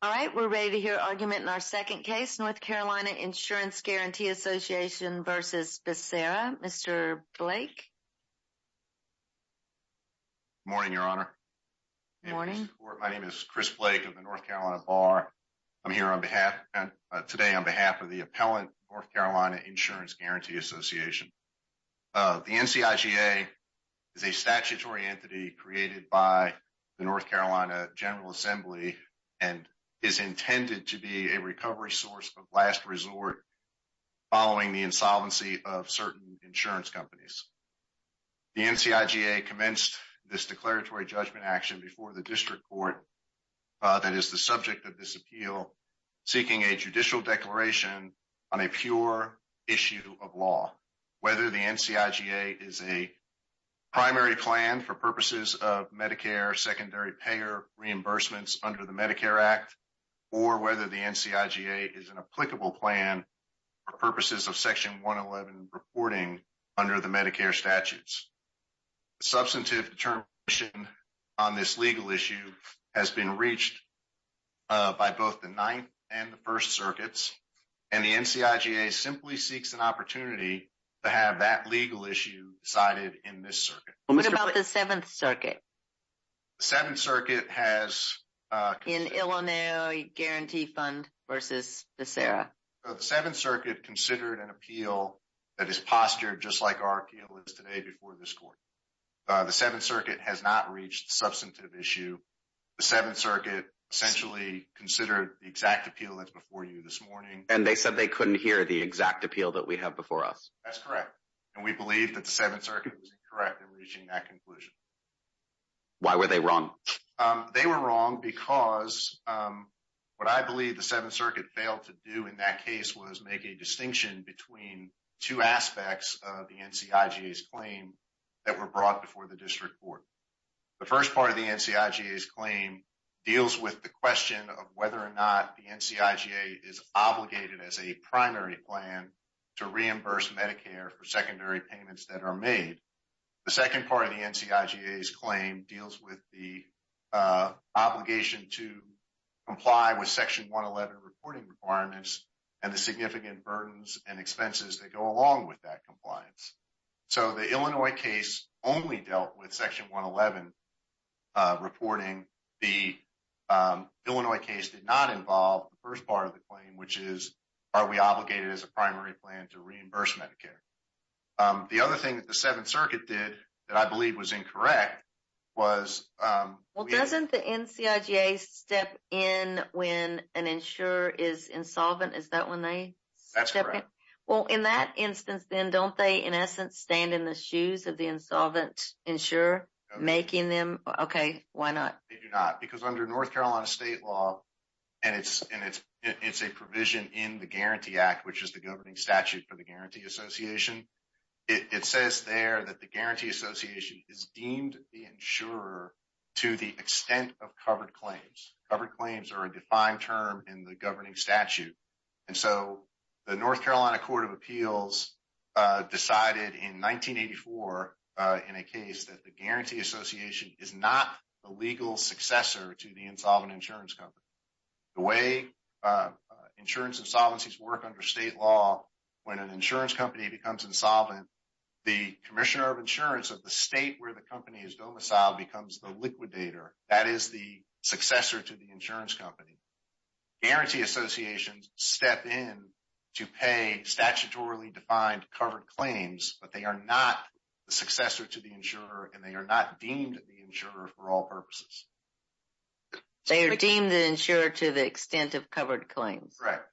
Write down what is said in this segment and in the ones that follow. All right, we're ready to hear argument in our second case, North Carolina Insurance Guaranty Association v. Becerra. Mr. Blake. Morning, Your Honor. My name is Chris Blake of the North Carolina Bar. I'm here today on behalf of the appellant, North Carolina Insurance Guaranty Association. The NCIGA is a statutory entity created by the North Carolina General Assembly and is intended to be a recovery source of last resort following the insolvency of certain insurance companies. The NCIGA commenced this declaratory judgment action before the district court that is the subject of this appeal, seeking a judicial declaration on a pure issue of law. Whether the NCIGA is a primary plan for purposes of Medicare secondary payer reimbursements under the Medicare Act or whether the NCIGA is an applicable plan for purposes of Section 111 reporting under the Medicare statutes. Substantive determination on this legal issue has been reached by both the Ninth and the First Circuits, and the NCIGA simply seeks an opportunity to have that legal issue decided in this circuit. What about the Seventh Circuit? The Seventh Circuit has... In Illinois Guarantee Fund v. Becerra. The Seventh Circuit considered an appeal that is postured just like our appeal is today before this court. The Seventh Circuit has not reached the substantive issue. The Seventh Circuit essentially considered the exact appeal that's before you this morning. And they said they couldn't hear the exact appeal that we have before us. That's correct. And we believe that the Seventh Circuit was incorrect in reaching that conclusion. Why were they wrong? They were wrong because what I believe the Seventh Circuit failed to do in that case was make a distinction between two aspects of the NCIGA's claim that were brought before the district court. The first part of the NCIGA's claim deals with the question of whether or not the NCIGA is obligated as a primary plan to reimburse Medicare for secondary payments that are made. The second part of the NCIGA's claim deals with the obligation to comply with Section 111 reporting requirements and the significant burdens and expenses that go along with that compliance. So the Illinois case only dealt with Section 111 reporting. The Illinois case did not involve the first part of the claim, which is, are we obligated as a primary plan to reimburse Medicare? The other thing that the Seventh Circuit did that I believe was incorrect was... Well, doesn't the NCIGA step in when an insurer is insolvent? Is that when they step in? That's correct. Well, in that instance, then, don't they, in essence, stand in the shoes of the insolvent insurer making them, okay, why not? They do not, because under North Carolina state law, and it's a provision in the Guarantee Act, which is the governing statute for the Guarantee Association. It says there that the Guarantee Association is deemed the insurer to the extent of covered claims. Covered claims are a defined term in the governing statute. And so the North Carolina Court of Appeals decided in 1984 in a case that the Guarantee Association is not the legal successor to the insolvent insurance company. The way insurance insolvencies work under state law, when an insurance company becomes insolvent, the commissioner of insurance of the state where the company is domiciled becomes the liquidator. That is the successor to the insurance company. Guarantee associations step in to pay statutorily defined covered claims, but they are not the successor to the insurer, and they are not deemed the insurer for all purposes. They are deemed the insurer to the extent of covered claims. Correct.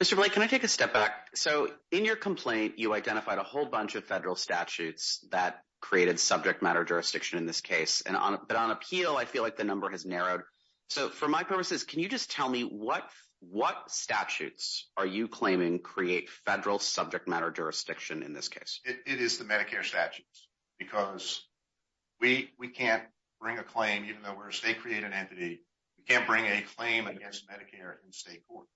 Mr. Blake, can I take a step back? So in your complaint, you identified a whole bunch of federal statutes that created subject matter jurisdiction in this case. But on appeal, I feel like the number has narrowed. So for my purposes, can you just tell me what statutes are you claiming create federal subject matter jurisdiction in this case? It is the Medicare statutes because we can't bring a claim, even though we're a state-created entity, we can't bring a claim against Medicare in state court.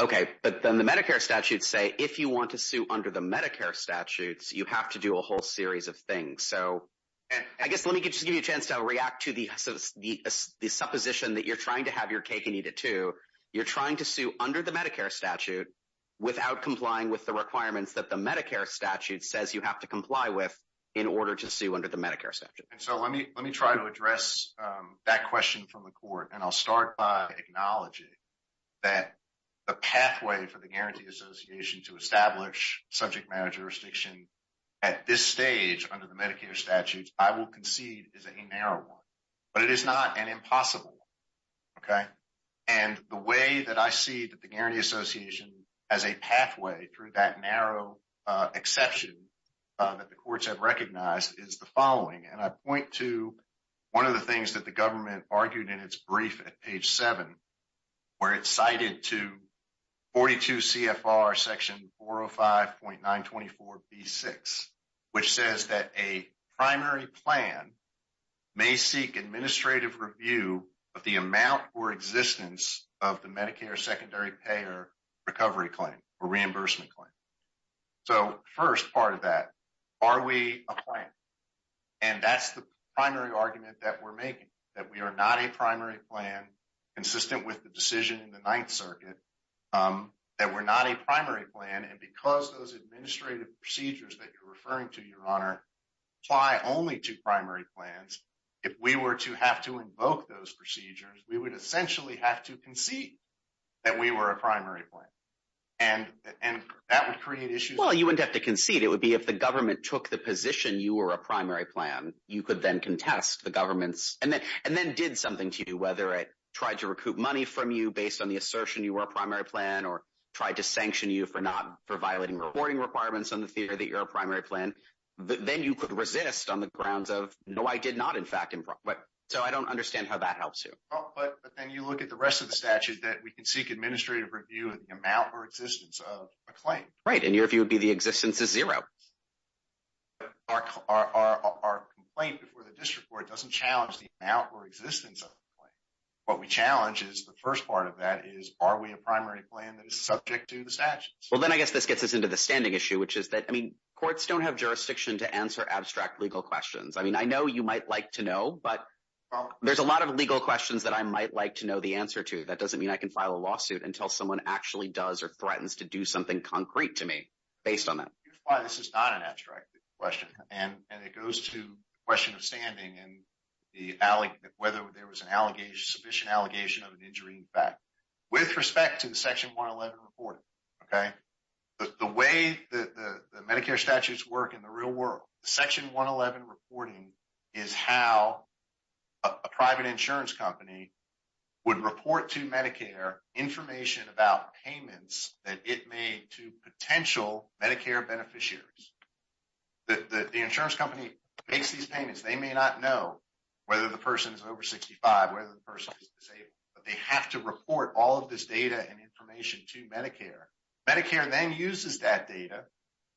Okay. But then the Medicare statutes say if you want to sue under the Medicare statutes, you have to do a whole series of things. So I guess let me just give you a chance to react to the supposition that you're trying to have your cake and eat it, too. You're trying to sue under the Medicare statute without complying with the requirements that the Medicare statute says you have to comply with in order to sue under the Medicare statute. And so let me try to address that question from the court. And I'll start by acknowledging that the pathway for the Guarantee Association to establish subject matter jurisdiction at this stage under the Medicare statutes, I will concede is a narrow one. But it is not an impossible one. Okay. And the way that I see that the Guarantee Association has a pathway through that narrow exception that the courts have recognized is the following. And I point to one of the things that the government argued in its brief at page 7, where it cited to 42 CFR section 405.924B6, which says that a primary plan may seek administrative review of the amount or existence of the Medicare secondary payer recovery claim or reimbursement claim. So first part of that, are we a plan? And that's the primary argument that we're making, that we are not a primary plan, consistent with the decision in the Ninth Circuit, that we're not a primary plan. And because those administrative procedures that you're referring to, Your Honor, apply only to primary plans, if we were to have to invoke those procedures, we would essentially have to concede that we were a primary plan. And that would create issues. Well, you wouldn't have to concede. It would be if the government took the position you were a primary plan, you could then contest the government's. And then did something to you, whether it tried to recoup money from you based on the assertion you were a primary plan or tried to sanction you for violating reporting requirements on the theory that you're a primary plan. Then you could resist on the grounds of, no, I did not, in fact. So I don't understand how that helps you. But then you look at the rest of the statute that we can seek administrative review of the amount or existence of a claim. Right, and your view would be the existence is zero. Our complaint before the district court doesn't challenge the amount or existence of the claim. What we challenge is the first part of that is, are we a primary plan that is subject to the statutes? Well, then I guess this gets us into the standing issue, which is that courts don't have jurisdiction to answer abstract legal questions. I mean, I know you might like to know, but there's a lot of legal questions that I might like to know the answer to. That doesn't mean I can file a lawsuit until someone actually does or threatens to do something concrete to me based on that. This is not an abstract question. And it goes to the question of standing and whether there was an allegation, sufficient allegation of an injury in fact. With respect to the Section 111 report, OK, the way that the Medicare statutes work in the real world, Section 111 reporting is how a private insurance company would report to Medicare information about payments that it made to potential Medicare beneficiaries. The insurance company makes these payments. They may not know whether the person is over 65, whether the person is disabled, but they have to report all of this data and information to Medicare. Medicare then uses that data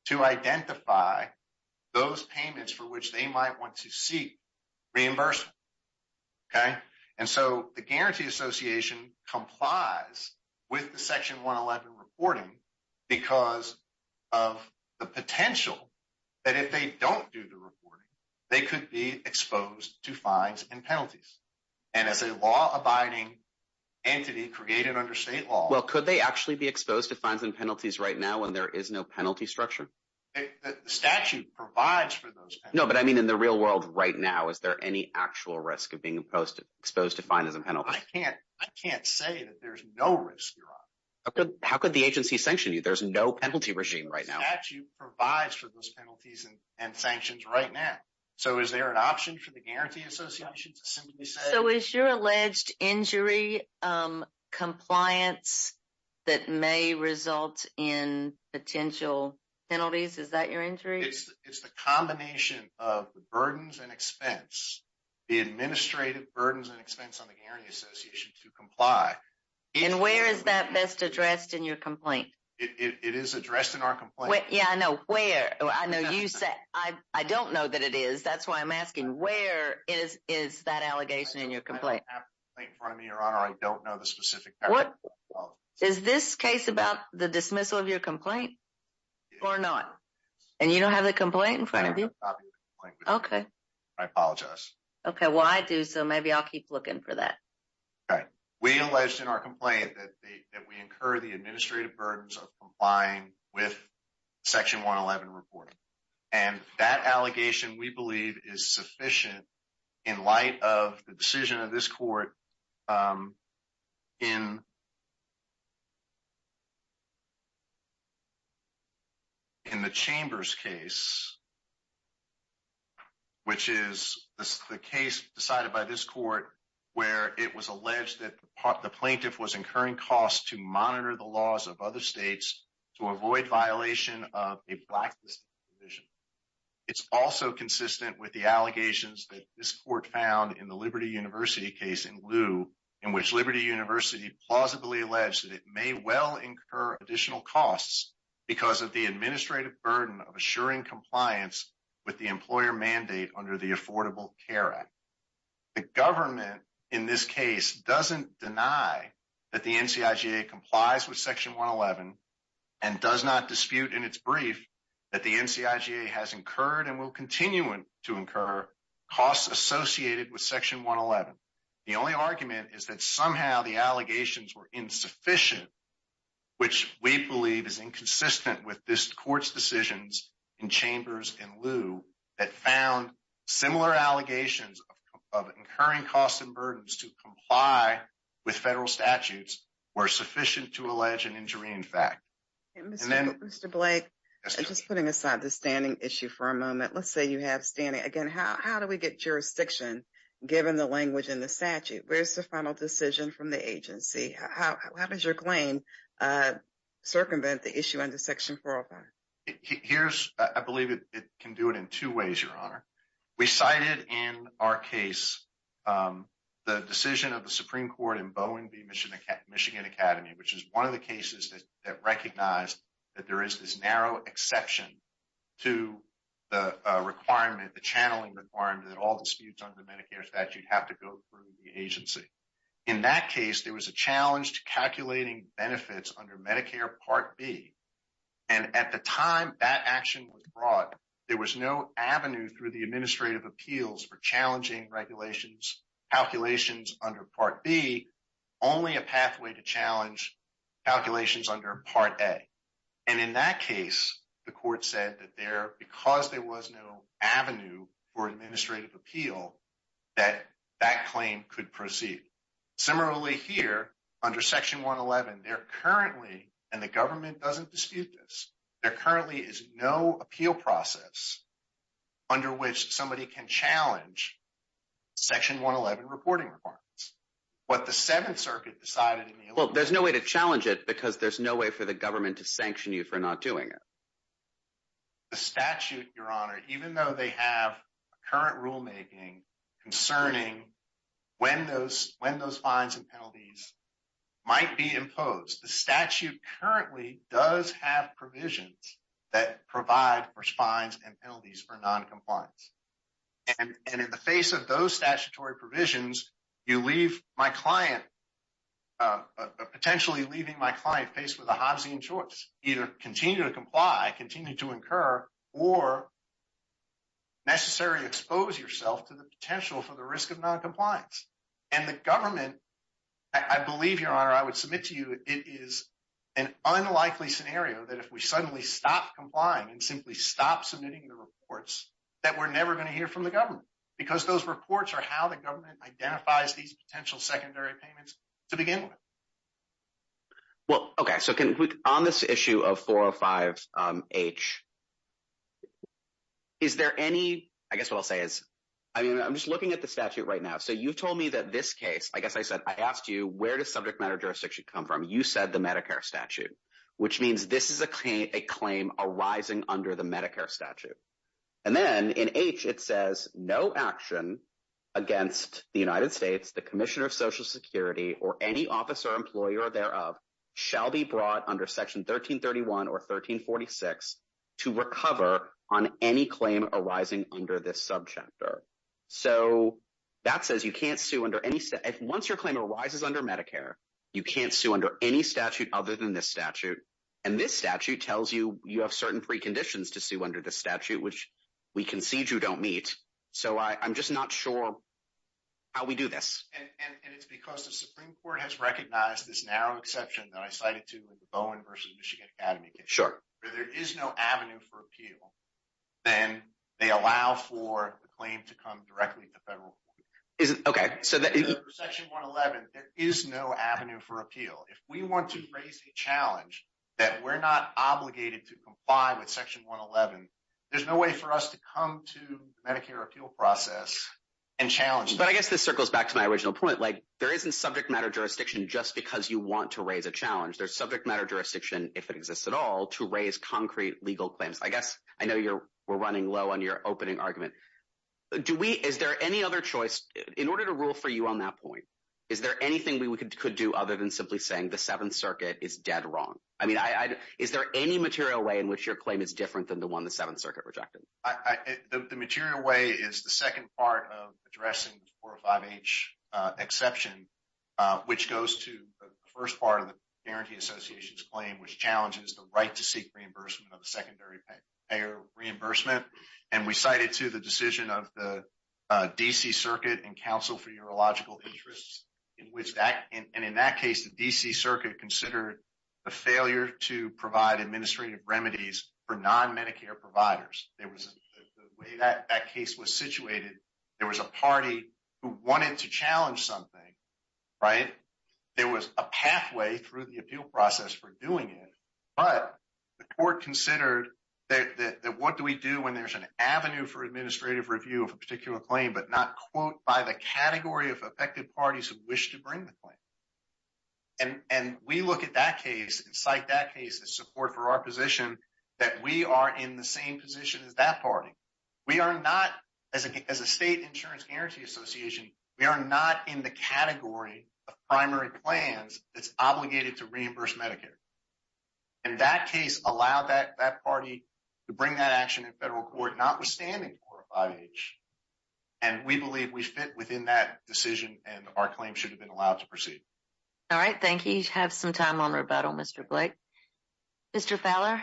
to identify those payments for which they might want to seek reimbursement. And so the Guarantee Association complies with the Section 111 reporting because of the potential that if they don't do the reporting, they could be exposed to fines and penalties. And as a law abiding entity created under state law. Well, could they actually be exposed to fines and penalties right now when there is no penalty structure? The statute provides for those. No, but I mean, in the real world right now, is there any actual risk of being exposed to fines and penalties? I can't say that there's no risk. How could the agency sanction you? There's no penalty regime right now. The statute provides for those penalties and sanctions right now. So is there an option for the Guarantee Association to simply say? So is your alleged injury compliance that may result in potential penalties? Is that your injury? It's the combination of the burdens and expense, the administrative burdens and expense on the Guarantee Association to comply. And where is that best addressed in your complaint? It is addressed in our complaint. Yeah, I know. Where? I don't know that it is. That's why I'm asking. Where is that allegation in your complaint? I don't have the complaint in front of me, Your Honor. I don't know the specific. Is this case about the dismissal of your complaint or not? And you don't have the complaint in front of you? Okay. I apologize. Okay, well, I do. So maybe I'll keep looking for that. We alleged in our complaint that we incur the administrative burdens of complying with Section 111 reporting. And that allegation, we believe, is sufficient in light of the decision of this court in the Chambers case, which is the case decided by this court where it was alleged that the plaintiff was incurring costs to monitor the laws of other states to avoid violation of a blacklisted provision. It's also consistent with the allegations that this court found in the Liberty University case in lieu in which Liberty University plausibly alleged that it may well incur additional costs because of the administrative burden of assuring compliance with the employer mandate under the Affordable Care Act. The government in this case doesn't deny that the NCIGA complies with Section 111 and does not dispute in its brief that the NCIGA has incurred and will continue to incur costs associated with Section 111. The only argument is that somehow the allegations were insufficient, which we believe is inconsistent with this court's decisions in Chambers in lieu that found similar allegations of incurring costs and burdens to comply with federal statutes were sufficient to allege an injury in fact. Mr. Blake, just putting aside the standing issue for a moment, let's say you have standing. Again, how do we get jurisdiction given the language in the statute? Where's the final decision from the agency? How does your claim circumvent the issue under Section 405? I believe it can do it in two ways, Your Honor. We cited in our case the decision of the Supreme Court in Boeing v. Michigan Academy, which is one of the cases that recognized that there is this narrow exception to the requirement, the channeling requirement that all disputes under the Medicare statute have to go through the agency. In that case, there was a challenge to calculating benefits under Medicare Part B. And at the time that action was brought, there was no avenue through the administrative appeals for challenging regulations, calculations under Part B, only a pathway to challenge calculations under Part A. And in that case, the court said that there, because there was no avenue for administrative appeal, that that claim could proceed. Similarly here, under Section 111, there currently, and the government doesn't dispute this, there currently is no appeal process under which somebody can challenge Section 111 reporting requirements. Well, there's no way to challenge it because there's no way for the government to sanction you for not doing it. The statute, Your Honor, even though they have current rulemaking concerning when those fines and penalties might be imposed, the statute currently does have provisions that provide for fines and penalties for noncompliance. And in the face of those statutory provisions, you leave my client, potentially leaving my client faced with a Hobbesian choice, either continue to comply, continue to incur, or necessarily expose yourself to the potential for the risk of noncompliance. And the government, I believe, Your Honor, I would submit to you, it is an unlikely scenario that if we suddenly stop complying and simply stop submitting the reports, that we're never going to hear from the government. Because those reports are how the government identifies these potential secondary payments to begin with. Well, okay. So on this issue of 405H, is there any, I guess what I'll say is, I mean, I'm just looking at the statute right now. So you've told me that this case, I guess I said, I asked you, where does subject matter jurisdiction come from? You said the Medicare statute, which means this is a claim arising under the Medicare statute. And then in H, it says, no action against the United States, the Commissioner of Social Security, or any officer or employer thereof shall be brought under Section 1331 or 1346 to recover on any claim arising under this subchapter. So that says you can't sue under any, once your claim arises under Medicare, you can't sue under any statute other than this statute. And this statute tells you, you have certain preconditions to sue under the statute, which we concede you don't meet. So I'm just not sure how we do this. And it's because the Supreme Court has recognized this narrow exception that I cited to in the Bowen versus Michigan Academy case, where there is no avenue for appeal, then they allow for the claim to come directly to federal court. For Section 111, there is no avenue for appeal. If we want to raise a challenge that we're not obligated to comply with Section 111, there's no way for us to come to the Medicare appeal process and challenge that. But I guess this circles back to my original point. There isn't subject matter jurisdiction just because you want to raise a challenge. There's subject matter jurisdiction, if it exists at all, to raise concrete legal claims. I guess I know we're running low on your opening argument. Is there any other choice? In order to rule for you on that point, is there anything we could do other than simply saying the Seventh Circuit is dead wrong? I mean, is there any material way in which your claim is different than the one the Seventh Circuit rejected? The material way is the second part of addressing the 405H exception, which goes to the first part of the Guarantee Association's claim, which challenges the right to seek reimbursement of a secondary payer reimbursement. And we cited, too, the decision of the D.C. Circuit and Council for Urological Interests, and in that case, the D.C. Circuit considered the failure to provide administrative remedies for non-Medicare providers. There was a way that that case was situated. There was a party who wanted to challenge something, right? There was a pathway through the appeal process for doing it. But the court considered that what do we do when there's an avenue for administrative review of a particular claim but not, quote, by the category of affected parties who wish to bring the claim? And we look at that case and cite that case as support for our position that we are in the same position as that party. We are not, as a State Insurance Guarantee Association, we are not in the category of primary plans that's obligated to reimburse Medicare. And that case allowed that party to bring that action in federal court, notwithstanding 405H. And we believe we fit within that decision and our claim should have been allowed to proceed. All right. Thank you. Have some time on rebuttal, Mr. Blake. Mr. Fowler?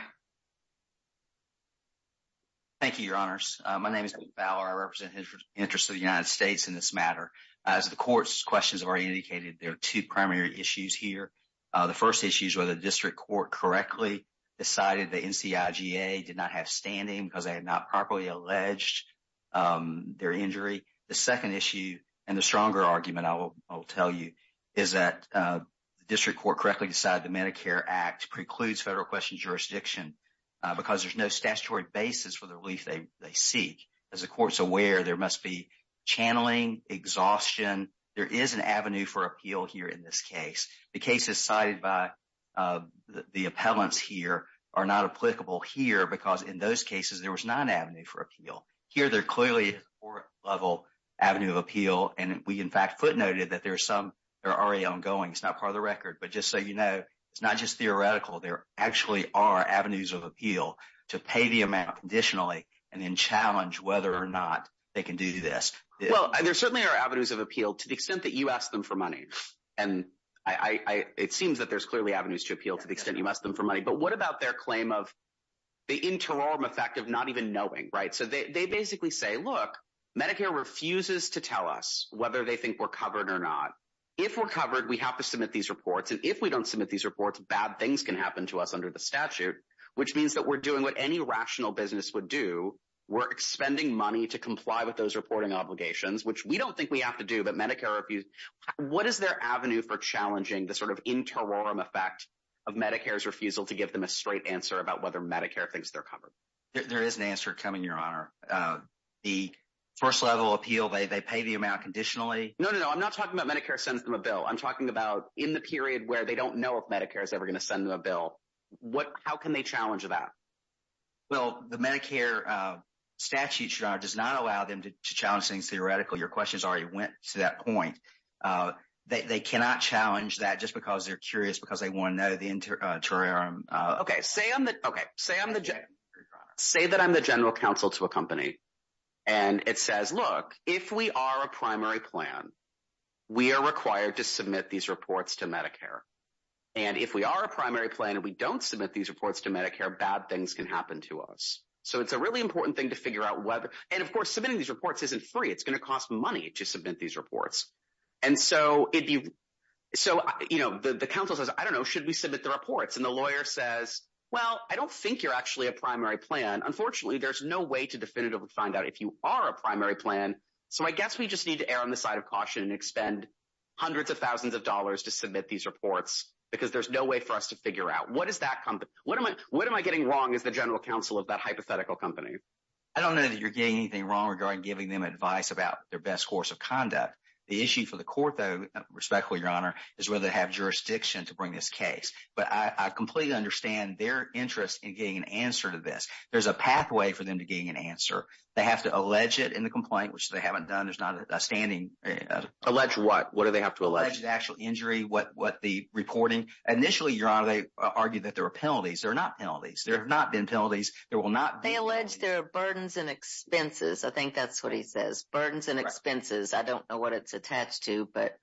Thank you, Your Honors. My name is Blake Fowler. I represent the interest of the United States in this matter. As the court's questions have already indicated, there are two primary issues here. The first issue is whether the district court correctly decided the NCIGA did not have standing because they had not properly alleged their injury. The second issue, and the stronger argument I will tell you, is that the district court correctly decided the Medicare Act precludes federal question jurisdiction because there's no statutory basis for the relief they seek. As the court's aware, there must be channeling, exhaustion. There is an avenue for appeal here in this case. The cases cited by the appellants here are not applicable here because in those cases there was not an avenue for appeal. Here, there clearly is a court-level avenue of appeal. And we, in fact, footnoted that there are some that are already ongoing. It's not part of the record. But just so you know, it's not just theoretical. There actually are avenues of appeal to pay the amount additionally and then challenge whether or not they can do this. Well, there certainly are avenues of appeal to the extent that you ask them for money. And it seems that there's clearly avenues to appeal to the extent you ask them for money. But what about their claim of the interim effect of not even knowing, right? So they basically say, look, Medicare refuses to tell us whether they think we're covered or not. If we're covered, we have to submit these reports. And if we don't submit these reports, bad things can happen to us under the statute, which means that we're doing what any rational business would do. We're expending money to comply with those reporting obligations, which we don't think we have to do, but Medicare refused. What is their avenue for challenging the sort of interim effect of Medicare's refusal to give them a straight answer about whether Medicare thinks they're covered? There is an answer coming, Your Honor. The first level appeal, they pay the amount conditionally. No, no, no. I'm not talking about Medicare sends them a bill. I'm talking about in the period where they don't know if Medicare is ever going to send them a bill. How can they challenge that? Well, the Medicare statute, Your Honor, does not allow them to challenge things theoretically. Your questions already went to that point. They cannot challenge that just because they're curious, because they want to know the interim. Say that I'm the general counsel to a company, and it says, look, if we are a primary plan, we are required to submit these reports to Medicare. And if we are a primary plan and we don't submit these reports to Medicare, bad things can happen to us. So it's a really important thing to figure out whether. And of course, submitting these reports isn't free. It's going to cost money to submit these reports. And so the counsel says, I don't know, should we submit the reports? And the lawyer says, well, I don't think you're actually a primary plan. I don't know that you're getting anything wrong regarding giving them advice about their best course of conduct. The issue for the court, though, respectfully, Your Honor, is whether they have jurisdiction to bring this case. But I completely understand their interest in getting an answer to this. There's a pathway for them to getting an answer. They have to allege it in the complaint, which they haven't done. There's not a standing. Alleged what? What do they have to allege? Alleged actual injury. What the reporting. Initially, Your Honor, they argued that there were penalties. There are not penalties. There have not been penalties. There will not be penalties. They allege there are burdens and expenses. I think that's what he says. Burdens and expenses. I don't know what it's attached to, but.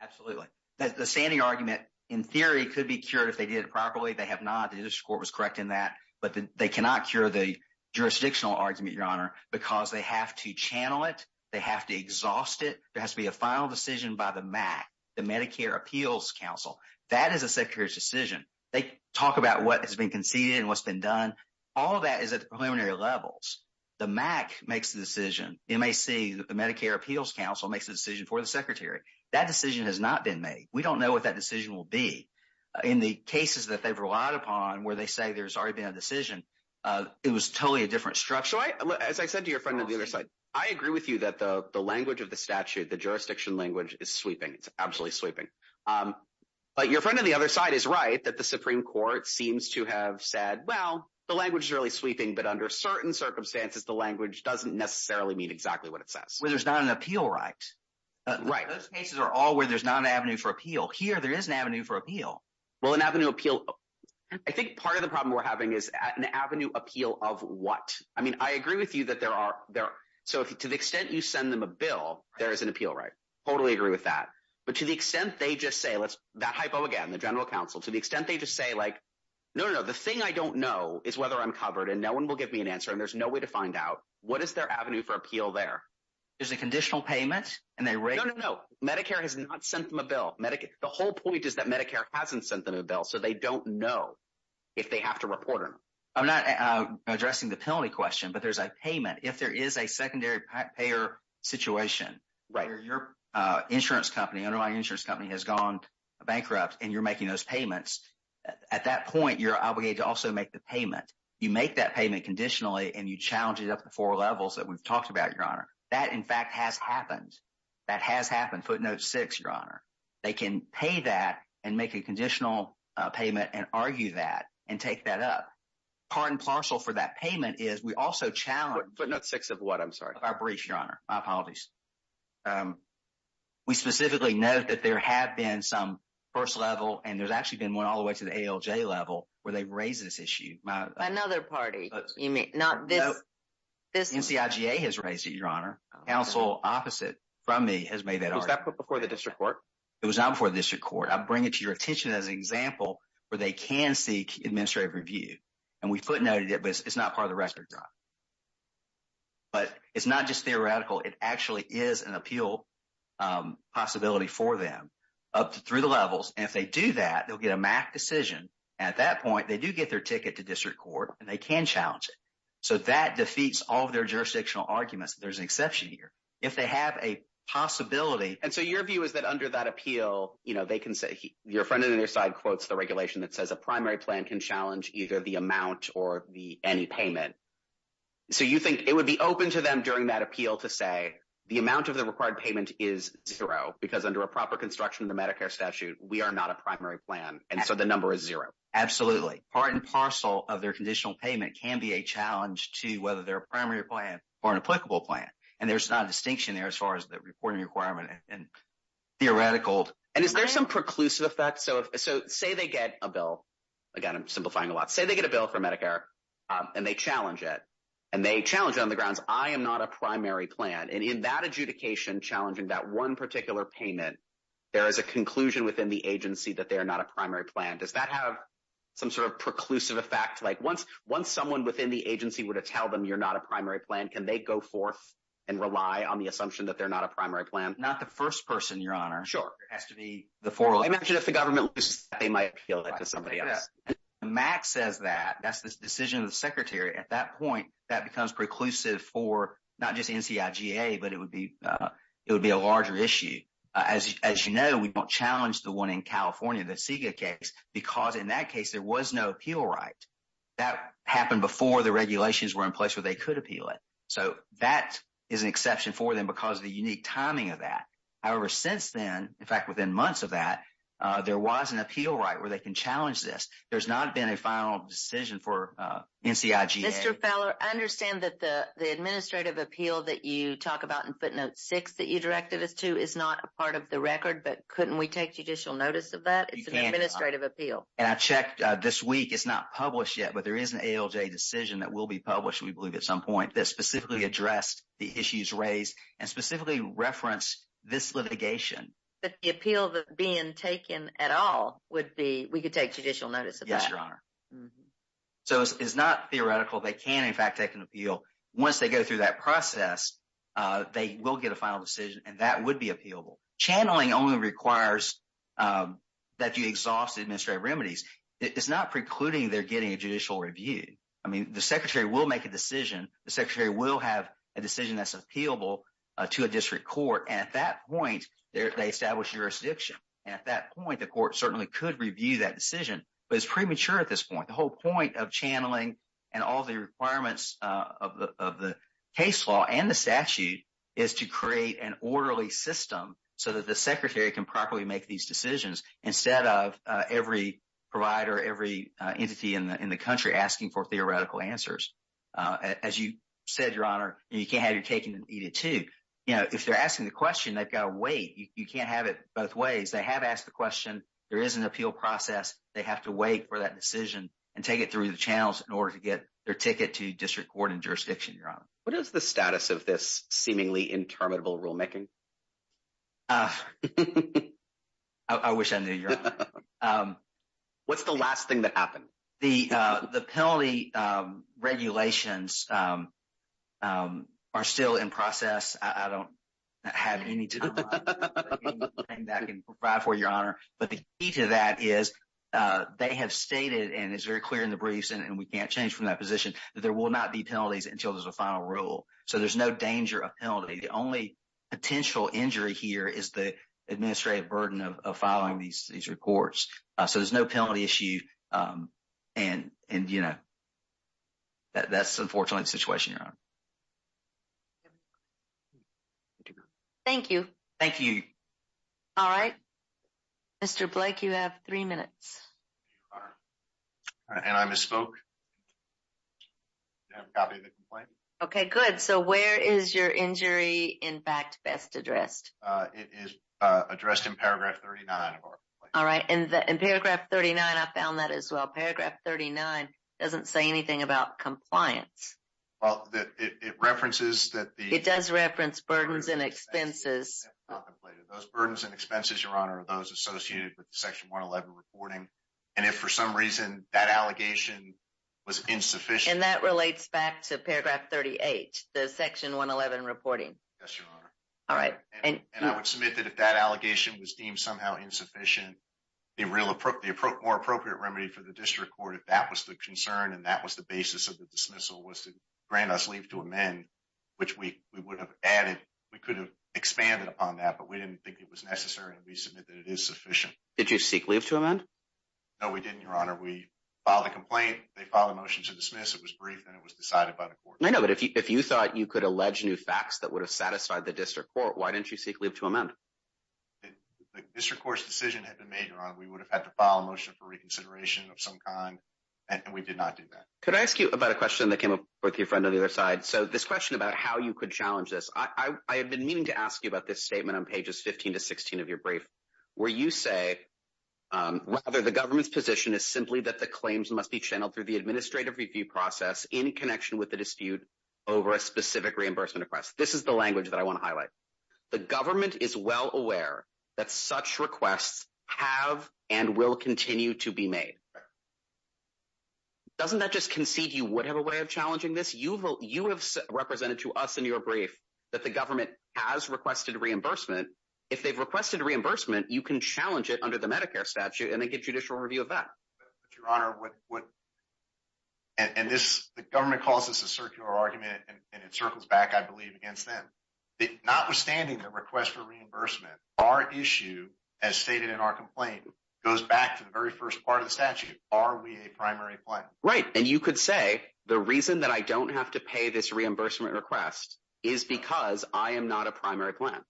Absolutely. The standing argument, in theory, could be cured if they did it properly. They have jurisdiction to do that. But I don't think they have jurisdiction to do that. They have not. The district court was correct in that. But they cannot cure the jurisdictional argument, Your Honor, because they have to channel it. They have to exhaust it. There has to be a final decision by the MAC, the Medicare Appeals Council. That is the Secretary's decision. They talk about what has been conceded and what's been done. All of that is at the preliminary levels. The MAC makes the decision. MAC, the Medicare Appeals Council, makes the decision for the Secretary. That decision has not been made. We don't know what that decision will be. In the cases that they've relied upon, where they say there's already been a decision, it was totally a different structure. As I said to your friend on the other side, I agree with you that the language of the statute, the jurisdiction language, is sweeping. It's absolutely sweeping. But your friend on the other side is right that the Supreme Court seems to have said, well, the language is really sweeping, but under certain circumstances, the language doesn't necessarily mean exactly what it says. Where there's not an appeal right. Those cases are all where there's not an avenue for appeal. Here, there is an avenue for appeal. Well, an avenue appeal. I think part of the problem we're having is an avenue appeal of what? I mean, I agree with you that there are, so to the extent you send them a bill, there is an appeal right. Totally agree with that. But to the extent they just say, that hypo again, the general counsel, to the extent they just say like, no, no, no, the thing I don't know is whether I'm covered and no one will give me an answer and there's no way to find out, what is their avenue for appeal there? There's a conditional payment. No, no, no. Medicare has not sent them a bill. The whole point is that Medicare hasn't sent them a bill, so they don't know if they have to report them. I'm not addressing the penalty question, but there's a payment. If there is a secondary payer situation, where your insurance company has gone bankrupt and you're making those payments, at that point, you're obligated to also make the payment. You make that payment conditionally and you challenge it up to four levels that we've talked about, Your Honor. That, in fact, has happened. That has happened, footnote six, Your Honor. They can pay that and make a conditional payment and argue that and take that up. Part and parcel for that payment is, we also challenge- Footnote six of what, I'm sorry? Our brief, Your Honor. My apologies. We specifically note that there have been some first level and there's actually been one all the way to the ALJ level where they raised this issue. Another party, you mean? Not this- NCIGA has raised it, Your Honor. Counsel opposite from me has made that argument. Was that before the district court? It was not before the district court. I bring it to your attention as an example where they can seek administrative review. And we footnoted it, but it's not part of the record job. But it's not just theoretical. It actually is an appeal possibility for them up through the levels. And if they do that, they'll get a MAC decision. At that point, they do get their ticket to district court and they can challenge it. So that defeats all of their jurisdictional arguments. There's an exception here. If they have a possibility- So your view is that under that appeal, they can say- your friend on your side quotes the regulation that says a primary plan can challenge either the amount or the any payment. So you think it would be open to them during that appeal to say the amount of the required payment is zero because under a proper construction of the Medicare statute, we are not a primary plan. And so the number is zero. Absolutely. Part and parcel of their conditional payment can be a challenge to whether they're a primary plan or an applicable plan. And there's not a distinction there as far as the reporting requirement and theoretical. And is there some preclusive effect? So say they get a bill. Again, I'm simplifying a lot. Say they get a bill for Medicare and they challenge it. And they challenge it on the grounds, I am not a primary plan. And in that adjudication challenging that one particular payment, there is a conclusion within the agency that they are not a primary plan. Does that have some sort of preclusive effect? Like once someone within the agency were to tell them you're not a primary plan, can they go forth and rely on the assumption that they're not a primary plan? Not the first person, Your Honor. Sure. It has to be the forerunner. I imagine if the government loses that, they might appeal that to somebody else. Max says that. That's the decision of the secretary. At that point, that becomes preclusive for not just NCIGA, but it would be a larger issue. As you know, we don't challenge the one in California, the CEGA case, because in that case, there was no appeal right. That happened before the regulations were in place where they could appeal it. So that is an exception for them because of the unique timing of that. However, since then, in fact, within months of that, there was an appeal right where they can challenge this. There's not been a final decision for NCIGA. Mr. Feller, I understand that the administrative appeal that you talk about in footnote six that you directed us to is not a part of the record, but couldn't we take judicial notice of that? It's an administrative appeal. And I checked this week. It's not published yet, but there is an ALJ decision that will be published, we believe, at some point that specifically addressed the issues raised and specifically referenced this litigation. But the appeal being taken at all, we could take judicial notice of that? Yes, Your Honor. So it's not theoretical. They can, in fact, take an appeal. Once they go through that process, they will get a final decision, and that would be appealable. Channeling only requires that you exhaust the administrative remedies. It's not precluding they're getting a judicial review. I mean, the secretary will make a decision. The secretary will have a decision that's appealable to a district court. And at that point, they establish jurisdiction. At that point, the court certainly could review that decision, but it's premature at this point. The whole point of channeling and all the requirements of the case law and the statute is to create an orderly system so that the secretary can properly make these decisions instead of every provider, every entity in the country asking for theoretical answers. As you said, Your Honor, you can't have your cake and eat it too. If they're asking the question, they've got to wait. You can't have it both ways. They have asked the question. There is an appeal process. They have to wait for that decision and take it through the channels in order to get their ticket to district court and jurisdiction, Your Honor. What is the status of this seemingly interminable rulemaking? I wish I knew, Your Honor. What's the last thing that happened? The penalty regulations are still in process. I don't have anything to provide for, Your Honor. But the key to that is they have stated, and it's very clear in the briefs and we can't change from that position, that there will not be penalties until there's a final rule. So there's no danger of penalty. The only potential injury here is the administrative burden of filing these reports. So there's no penalty issue and, you know, that's unfortunately the situation, Your Honor. Thank you. Thank you. All right. Mr. Blake, you have three minutes. And I misspoke. I have a copy of the complaint. Okay, good. So where is your injury, in fact, best addressed? It is addressed in paragraph 39 of our complaint. All right. And in paragraph 39, I found that as well. Paragraph 39 doesn't say anything about compliance. Well, it references that the... It does reference burdens and expenses. Those burdens and expenses, Your Honor, those associated with the Section 111 reporting. And if for some reason that allegation was insufficient... And that relates back to paragraph 38, the Section 111 reporting. Yes, Your Honor. All right. And I would submit that if that allegation was deemed somehow insufficient, the more appropriate remedy for the district court, if that was the concern and that was the basis of the dismissal, was to grant us leave to amend, which we would have added. We could have expanded upon that, but we didn't think it was necessary, and we submit that it is sufficient. Did you seek leave to amend? No, we didn't, Your Honor. We filed a complaint. They filed a motion to dismiss. It was briefed, and it was decided by the court. I know, but if you thought you could allege new facts that would have satisfied the district court, why didn't you seek leave to amend? The district court's decision had been made, Your Honor. We would have had to file a motion for reconsideration of some kind, and we did not do that. Could I ask you about a question that came up with your friend on the other side? All right, so this question about how you could challenge this, I have been meaning to ask you about this statement on pages 15 to 16 of your brief, where you say, rather, the government's position is simply that the claims must be channeled through the administrative review process in connection with the dispute over a specific reimbursement request. This is the language that I want to highlight. The government is well aware that such requests have and will continue to be made. Doesn't that just concede you would have a way of challenging this? You have represented to us in your brief that the government has requested a reimbursement. If they've requested a reimbursement, you can challenge it under the Medicare statute, and they get judicial review of that. And the government calls this a circular argument, and it circles back, I believe, against them. Notwithstanding the request for reimbursement, our issue, as stated in our complaint, goes back to the very first part of the statute. Are we a primary plan? Right, and you could say the reason that I don't have to pay this reimbursement request is because I am not a primary plan.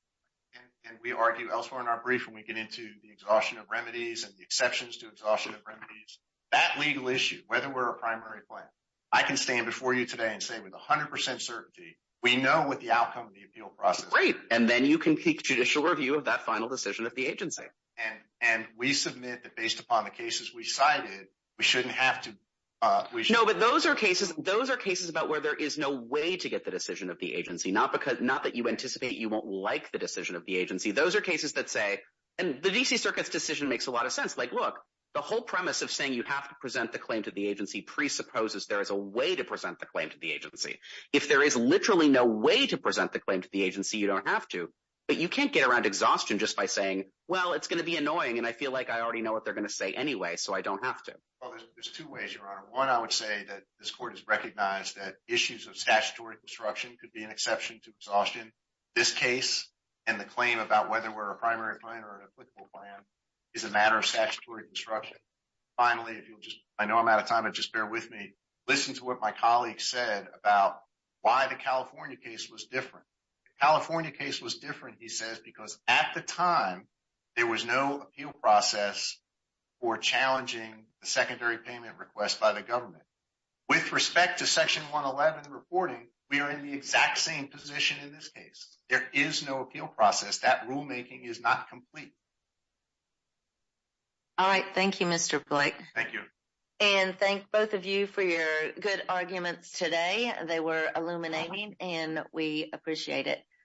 And we argue elsewhere in our brief when we get into the exhaustion of remedies and the exceptions to exhaustion of remedies. That legal issue, whether we're a primary plan, I can stand before you today and say with 100 percent certainty, we know what the outcome of the appeal process is. Right, and then you can seek judicial review of that final decision of the agency. And we submit that based upon the cases we cited, we shouldn't have to. No, but those are cases about where there is no way to get the decision of the agency, not that you anticipate you won't like the decision of the agency. Those are cases that say, and the D.C. Circuit's decision makes a lot of sense. Like, look, the whole premise of saying you have to present the claim to the agency presupposes there is a way to present the claim to the agency. If there is literally no way to present the claim to the agency, you don't have to. But you can't get around exhaustion just by saying, well, it's going to be annoying, and I feel like I already know what they're going to say anyway, so I don't have to. Well, there's two ways, Your Honor. One, I would say that this court has recognized that issues of statutory construction could be an exception to exhaustion. This case and the claim about whether we're a primary plan or an applicable plan is a matter of statutory construction. Finally, I know I'm out of time, but just bear with me. Listen to what my colleague said about why the California case was different. The California case was different, he says, because at the time, there was no appeal process for challenging the secondary payment request by the government. With respect to Section 111 reporting, we are in the exact same position in this case. There is no appeal process. That rulemaking is not complete. All right. Thank you, Mr. Blake. Thank you. And thank both of you for your good arguments today. They were illuminating, and we appreciate it.